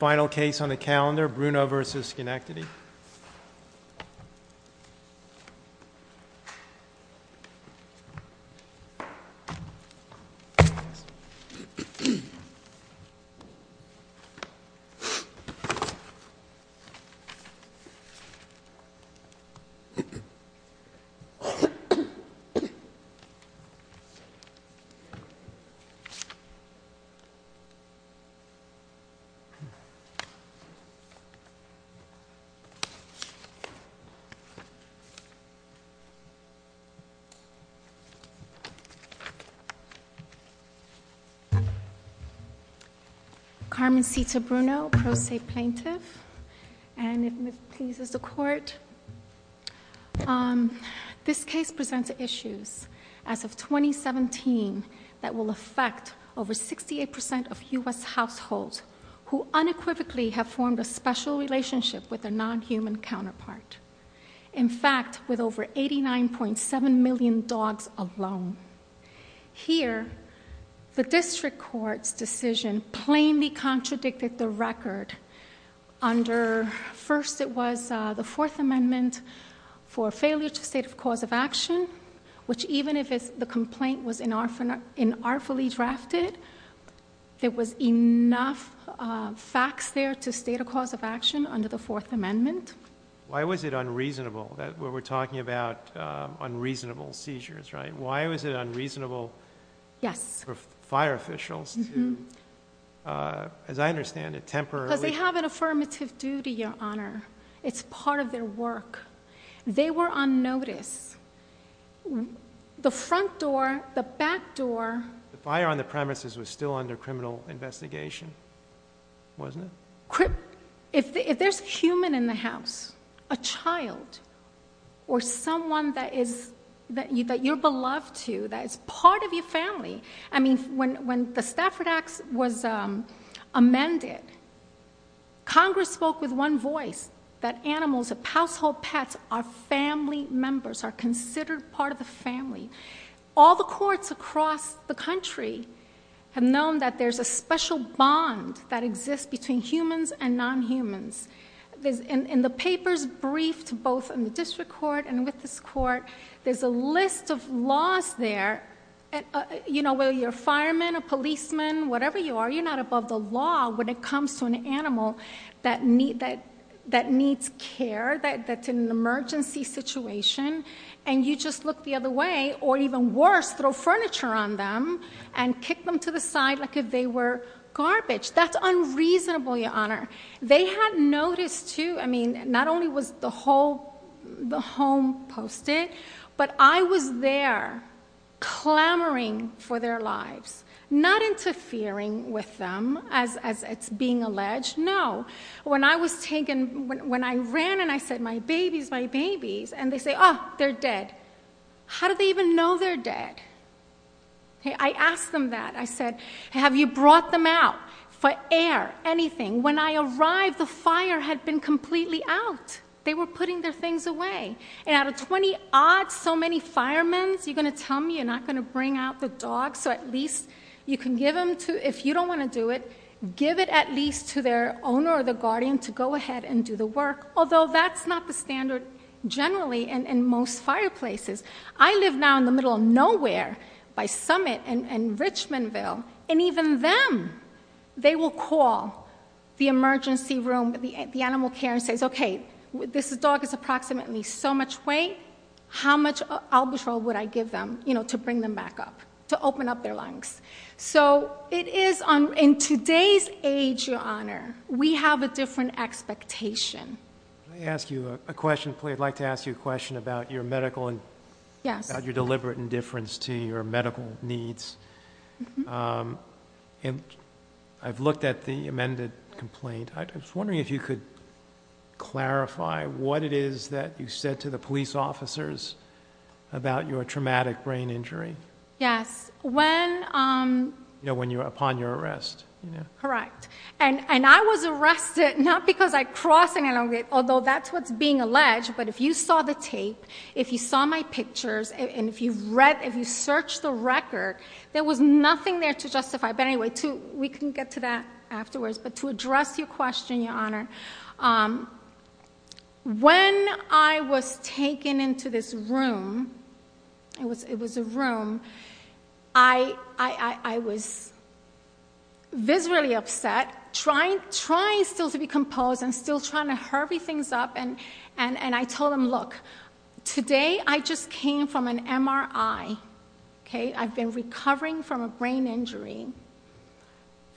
Final case on the calendar, Bruno v. Schenectady. Carmen Sita Bruno, pro se plaintiff. And if it pleases the court, this case presents issues as of 2017 that will effect over 68% of U.S. households who unequivocally have formed a special relationship with their non-human counterpart. In fact, with over 89.7 million dogs alone. Here, the district court's decision plainly contradicted the record. Under, first it was the Fourth Amendment for failure to state a cause of action, which even if the complaint was inartfully drafted, there was enough facts there to state a cause of action under the Fourth Amendment. Why was it unreasonable that we're talking about unreasonable seizures, right? Why was it unreasonable for fire officials to, as I understand it, temporarily... Because they have an affirmative duty, Your Honor. It's part of their work. They were on notice. The front door, the back door... The fire on the premises was still under criminal investigation, wasn't it? If there's a human in the house, a child, or someone that you're beloved to, that's part of your family... I mean, when the Stafford Act was amended, Congress spoke with one voice. That animals, household pets, are family members, are considered part of the family. All the courts across the country have known that there's a special bond that exists between humans and non-humans. In the papers briefed both in the district court and with this court, there's a list of laws there... You know, whether you're a fireman, a policeman, whatever you are, you're not above the law... when it comes to an animal that needs care, that's in an emergency situation. And, you just look the other way, or even worse, throw furniture on them and kick them to the side, like if they were garbage. That's unreasonable, Your Honor. They had noticed too, I mean, not only was the whole, the home posted, but I was there clamoring for their lives. Not interfering with them, as it's being alleged. No, when I was taken, when I ran and I said, my babies, my babies, and they say, oh, they're dead. How do they even know they're dead? I asked them that. I said, have you brought them out for air, anything? When I arrived, the fire had been completely out. They were putting their things away. And, out of 20-odd, so many firemen, you're going to tell me you're not going to bring out the dogs? So, at least you can give them to, if you don't want to do it, give it at least to their owner or the guardian to go ahead and do the work. Although, that's not the standard generally in most fireplaces. I live now in the middle of nowhere, by Summit and Richmondville, and even them, they will call the emergency room, the animal care, and say, okay, this dog is approximately so much weight, how much albatross would I give them to bring them back up, to open up their lungs? So, it is, in today's age, Your Honor, we have a different expectation. Can I ask you a question, please? I'd like to ask you a question about your medical and your deliberate indifference to your medical needs. I've looked at the amended complaint. I was wondering if you could clarify what it is that you said to the police officers about your traumatic brain injury. Yes. When you were upon your arrest. Correct. And I was arrested, not because I crossed, although that's what's being alleged, but if you saw the tape, if you saw my pictures, and if you've read, if you've searched the record, there was nothing there to justify. But anyway, we can get to that afterwards. But to address your question, Your Honor, when I was taken into this room, it was a room, I was viscerally upset, trying still to be composed and still trying to hurry things up, and I told them, look, today I just came from an MRI, okay? I've been recovering from a brain injury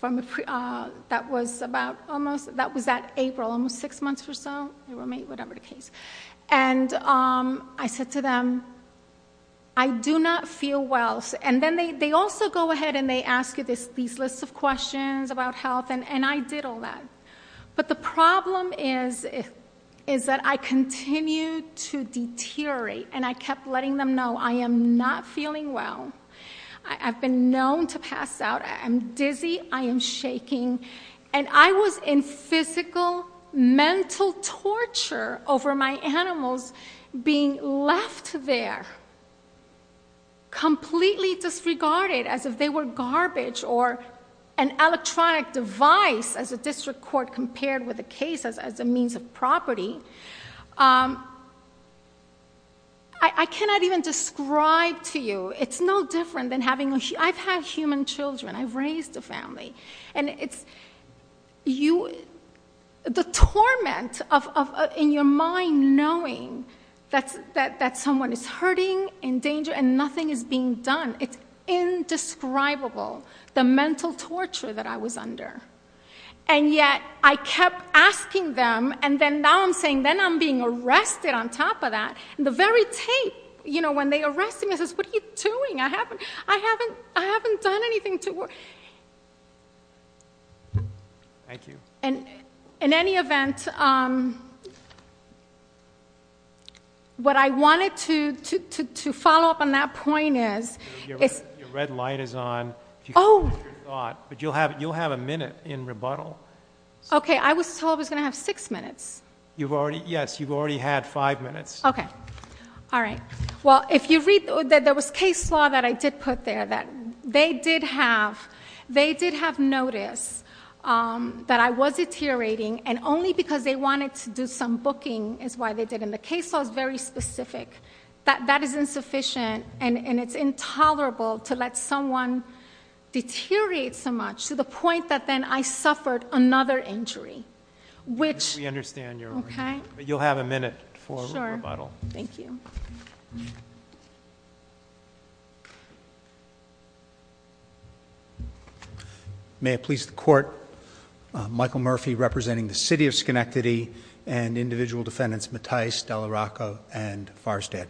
that was at April, almost six months or so, whatever the case. And I said to them, I do not feel well. And then they also go ahead and they ask you these lists of questions about health, and I did all that. But the problem is that I continued to deteriorate, and I kept letting them know I am not feeling well. I've been known to pass out. I'm dizzy. I am shaking. And I was in physical, mental torture over my animals being left there, completely disregarded as if they were garbage or an electronic device, as the district court compared with the case as a means of property. I cannot even describe to you. It's no different than having a... You... The torment in your mind knowing that someone is hurting, in danger, and nothing is being done, it's indescribable, the mental torture that I was under. And yet I kept asking them, and then now I'm saying, then I'm being arrested on top of that. And the very tape, you know, when they arrest him, he says, what are you doing? I haven't done anything to... Thank you. In any event, what I wanted to follow up on that point is... Your red light is on. Oh. But you'll have a minute in rebuttal. Okay. I was told I was going to have six minutes. Yes, you've already had five minutes. Okay. All right. Well, if you read... there was case law that I did put there that they did have notice that I was deteriorating, and only because they wanted to do some booking is why they did it. And the case law is very specific. That is insufficient, and it's intolerable to let someone deteriorate so much, to the point that then I suffered another injury, which... We understand your... Okay. You'll have a minute for rebuttal. Thank you. May it please the Court, Michael Murphy representing the City of Schenectady and individual defendants Mattice, Dallarocco, and Farrstad.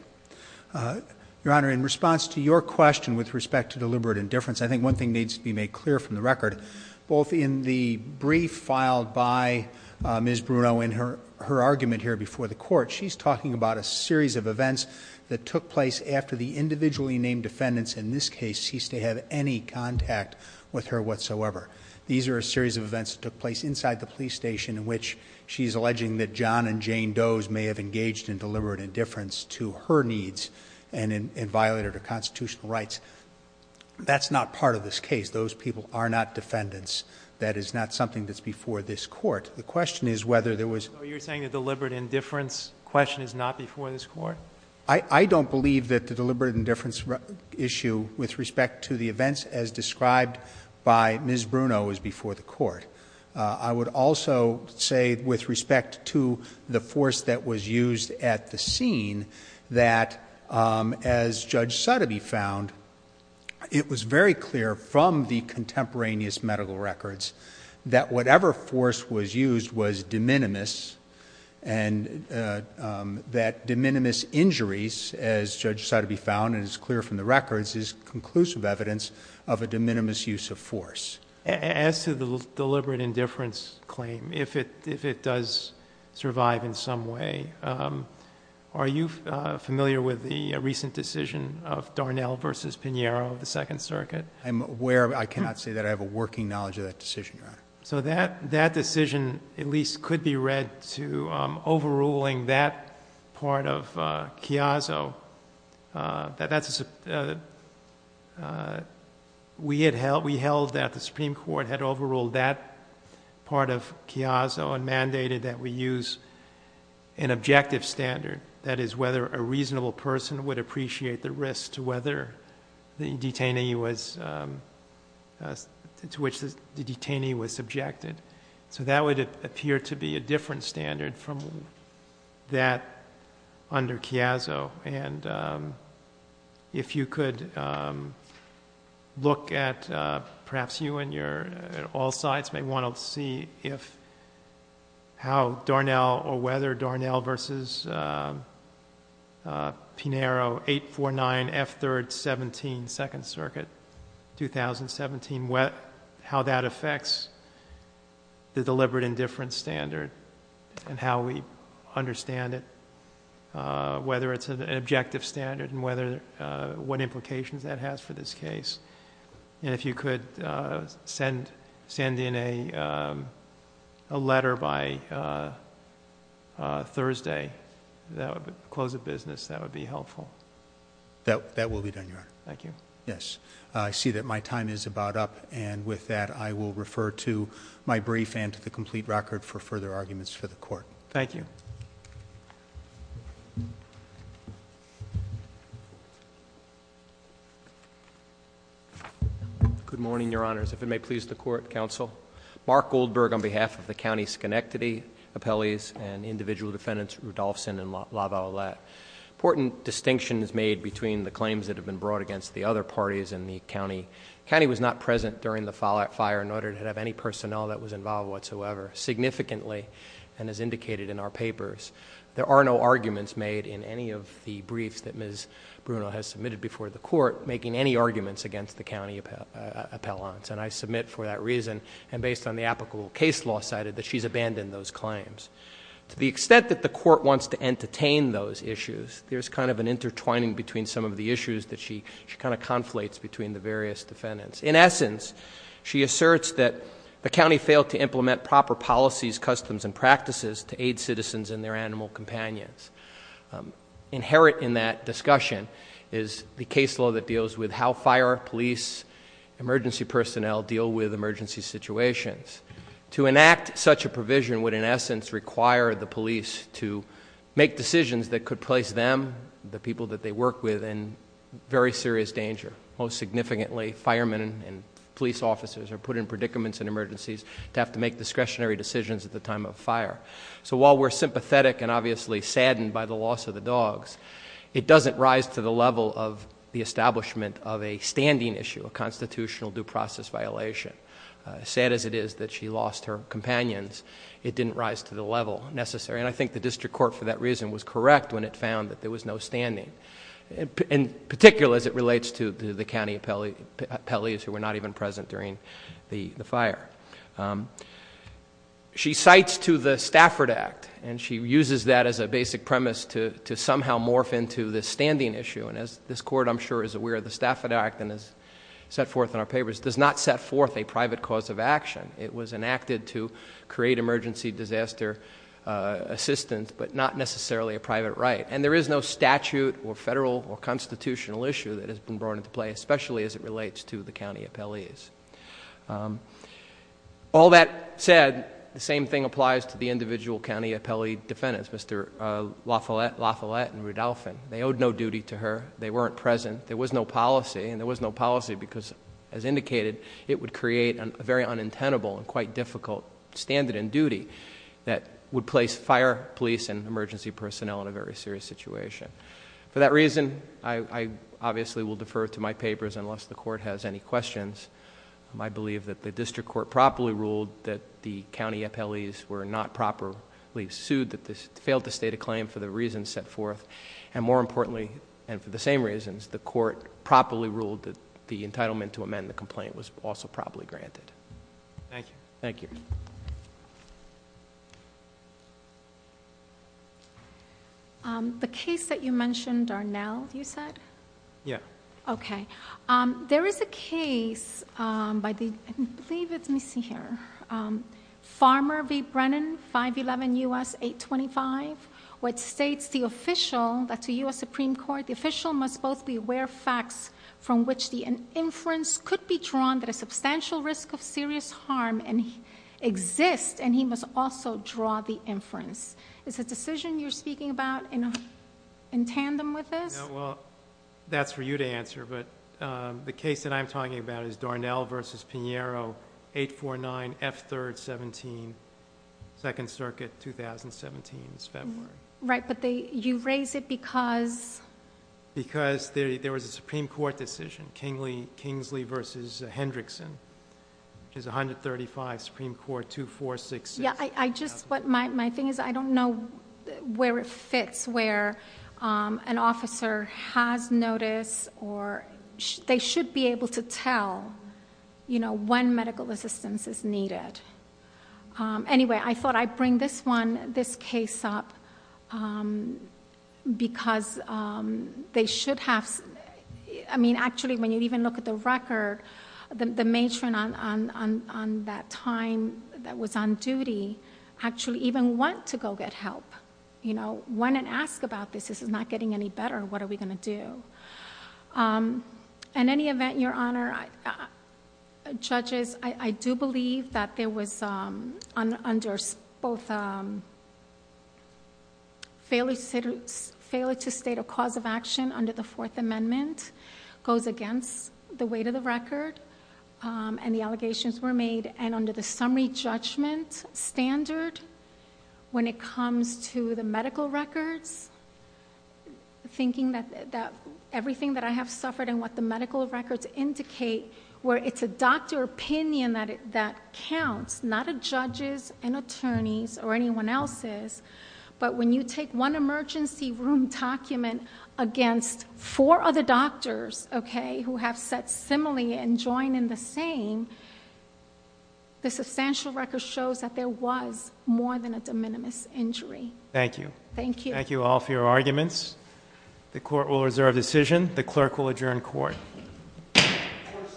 Your Honor, in response to your question with respect to deliberate indifference, I think one thing needs to be made clear from the record. Both in the brief filed by Ms. Bruno in her argument here before the Court, she's talking about a series of events that took place after the individually named defendants, in this case, ceased to have any contact with her whatsoever. These are a series of events that took place inside the police station, in which she's alleging that John and Jane Doe's may have engaged in deliberate indifference to her needs, and violated her constitutional rights. That's not part of this case. Those people are not defendants. That is not something that's before this Court. The question is whether there was... So you're saying the deliberate indifference question is not before this Court? I don't believe that the deliberate indifference issue, with respect to the events as described by Ms. Bruno, is before the Court. I would also say, with respect to the force that was used at the scene, that as Judge Sotheby found, it was very clear from the contemporaneous medical records, that whatever force was used was de minimis, and that de minimis injuries, as Judge Sotheby found and is clear from the records, is conclusive evidence of a de minimis use of force. As to the deliberate indifference claim, if it does survive in some way, are you familiar with the recent decision of Darnell v. Pinheiro of the Second Circuit? I'm aware. I cannot say that. I have a working knowledge of that decision, Your Honor. That decision at least could be read to overruling that part of Chiazzo. We held that the Supreme Court had overruled that part of Chiazzo and mandated that we use an objective standard, that is whether a reasonable person would appreciate the risk as to whether the detainee was subjected. So that would appear to be a different standard from that under Chiazzo. And if you could look at perhaps you and your all sides may want to see how Darnell or whether Darnell v. Pinheiro, 849 F. 3rd. 17, Second Circuit, 2017, how that affects the deliberate indifference standard and how we understand it, whether it's an objective standard and what implications that has for this case. And if you could send in a letter by Thursday, close of business, that would be helpful. That will be done, Your Honor. Thank you. Yes. I see that my time is about up and with that I will refer to my brief and to the complete record for further arguments for the court. Thank you. Good morning, Your Honors. If it may please the court, counsel. Mark Goldberg on behalf of the County Schenectady Appellees and individual defendants Rudolfson and Lavallette. Important distinction is made between the claims that have been brought against the other parties in the county. The county was not present during the fire in order to have any personnel that was involved whatsoever. Significantly and as indicated in our papers, there are no arguments made in any of the briefs that Ms. Bruno has submitted before the court making any arguments against the county appellants. And I submit for that reason and based on the applicable case law cited that she's abandoned those claims. To the extent that the court wants to entertain those issues, there's kind of an intertwining between some of the issues that she kind of conflates between the various defendants. In essence, she asserts that the county failed to implement proper policies, customs, and practices to aid citizens and their animal companions. Inherent in that discussion is the case law that deals with how fire, police, emergency personnel deal with emergency situations. To enact such a provision would in essence require the police to make decisions that could place them, the people that they work with, in very serious danger. Most significantly, firemen and police officers are put in predicaments in emergencies to have to make discretionary decisions at the time of a fire. So while we're sympathetic and obviously saddened by the loss of the dogs, it doesn't rise to the level of the establishment of a standing issue, a constitutional due process violation. Sad as it is that she lost her companions, it didn't rise to the level necessary. And I think the district court for that reason was correct when it found that there was no standing, in particular as it relates to the county appellees who were not even present during the fire. She cites to the Stafford Act, and she uses that as a basic premise to somehow morph into this standing issue. And as this court, I'm sure, is aware, the Stafford Act, as set forth in our papers, does not set forth a private cause of action. It was enacted to create emergency disaster assistance, but not necessarily a private right. And there is no statute or federal or constitutional issue that has been brought into play, especially as it relates to the county appellees. All that said, the same thing applies to the individual county appellee defendants, Mr. LaFollette and Rudolphin. They owed no duty to her. They weren't present. There was no policy, and there was no policy because, as indicated, it would create a very unintentable and quite difficult standard in duty that would place fire, police, and emergency personnel in a very serious situation. For that reason, I obviously will defer to my papers unless the court has any questions. I believe that the district court properly ruled that the county appellees were not properly sued, that they failed to state a claim for the reasons set forth. And more importantly, and for the same reasons, the court properly ruled that the entitlement to amend the complaint was also properly granted. Thank you. The case that you mentioned, Darnell, you said? Yeah. Okay. There is a case by the, I believe it's missing here, Farmer v. Brennan, 511 U.S. 825, which states the official, that's a U.S. Supreme Court, the official must both be aware of facts from which the inference could be drawn that a substantial risk of serious harm exists, and he must also draw the inference. Is the decision you're speaking about in tandem with this? Well, that's for you to answer, but the case that I'm talking about is Darnell v. Pinheiro, 849 F. 3rd, 17, 2nd Circuit, 2017, it's February. Right, but you raise it because? Because there was a Supreme Court decision, Kingsley v. Hendrickson, which is 135 Supreme Court, 2466. It's where an officer has notice or they should be able to tell when medical assistance is needed. Anyway, I thought I'd bring this case up because they should have, I mean actually when you even look at the record, the matron on that time that was on duty actually even went to go get help. You know, went and asked about this. This is not getting any better. What are we going to do? In any event, Your Honor, judges, I do believe that there was both failure to state a cause of action under the Fourth Amendment goes against the weight of the record and the allegations were made, and under the summary judgment standard when it comes to the medical records, thinking that everything that I have suffered and what the medical records indicate, where it's a doctor opinion that counts, not a judge's, an attorney's, or anyone else's, but when you take one emergency room document against four other doctors, okay, who have said similarly and join in the same, the substantial record shows that there was more than a de minimis injury. Thank you. Thank you. Thank you all for your arguments. The court will reserve decision. The clerk will adjourn court. Court is adjourned.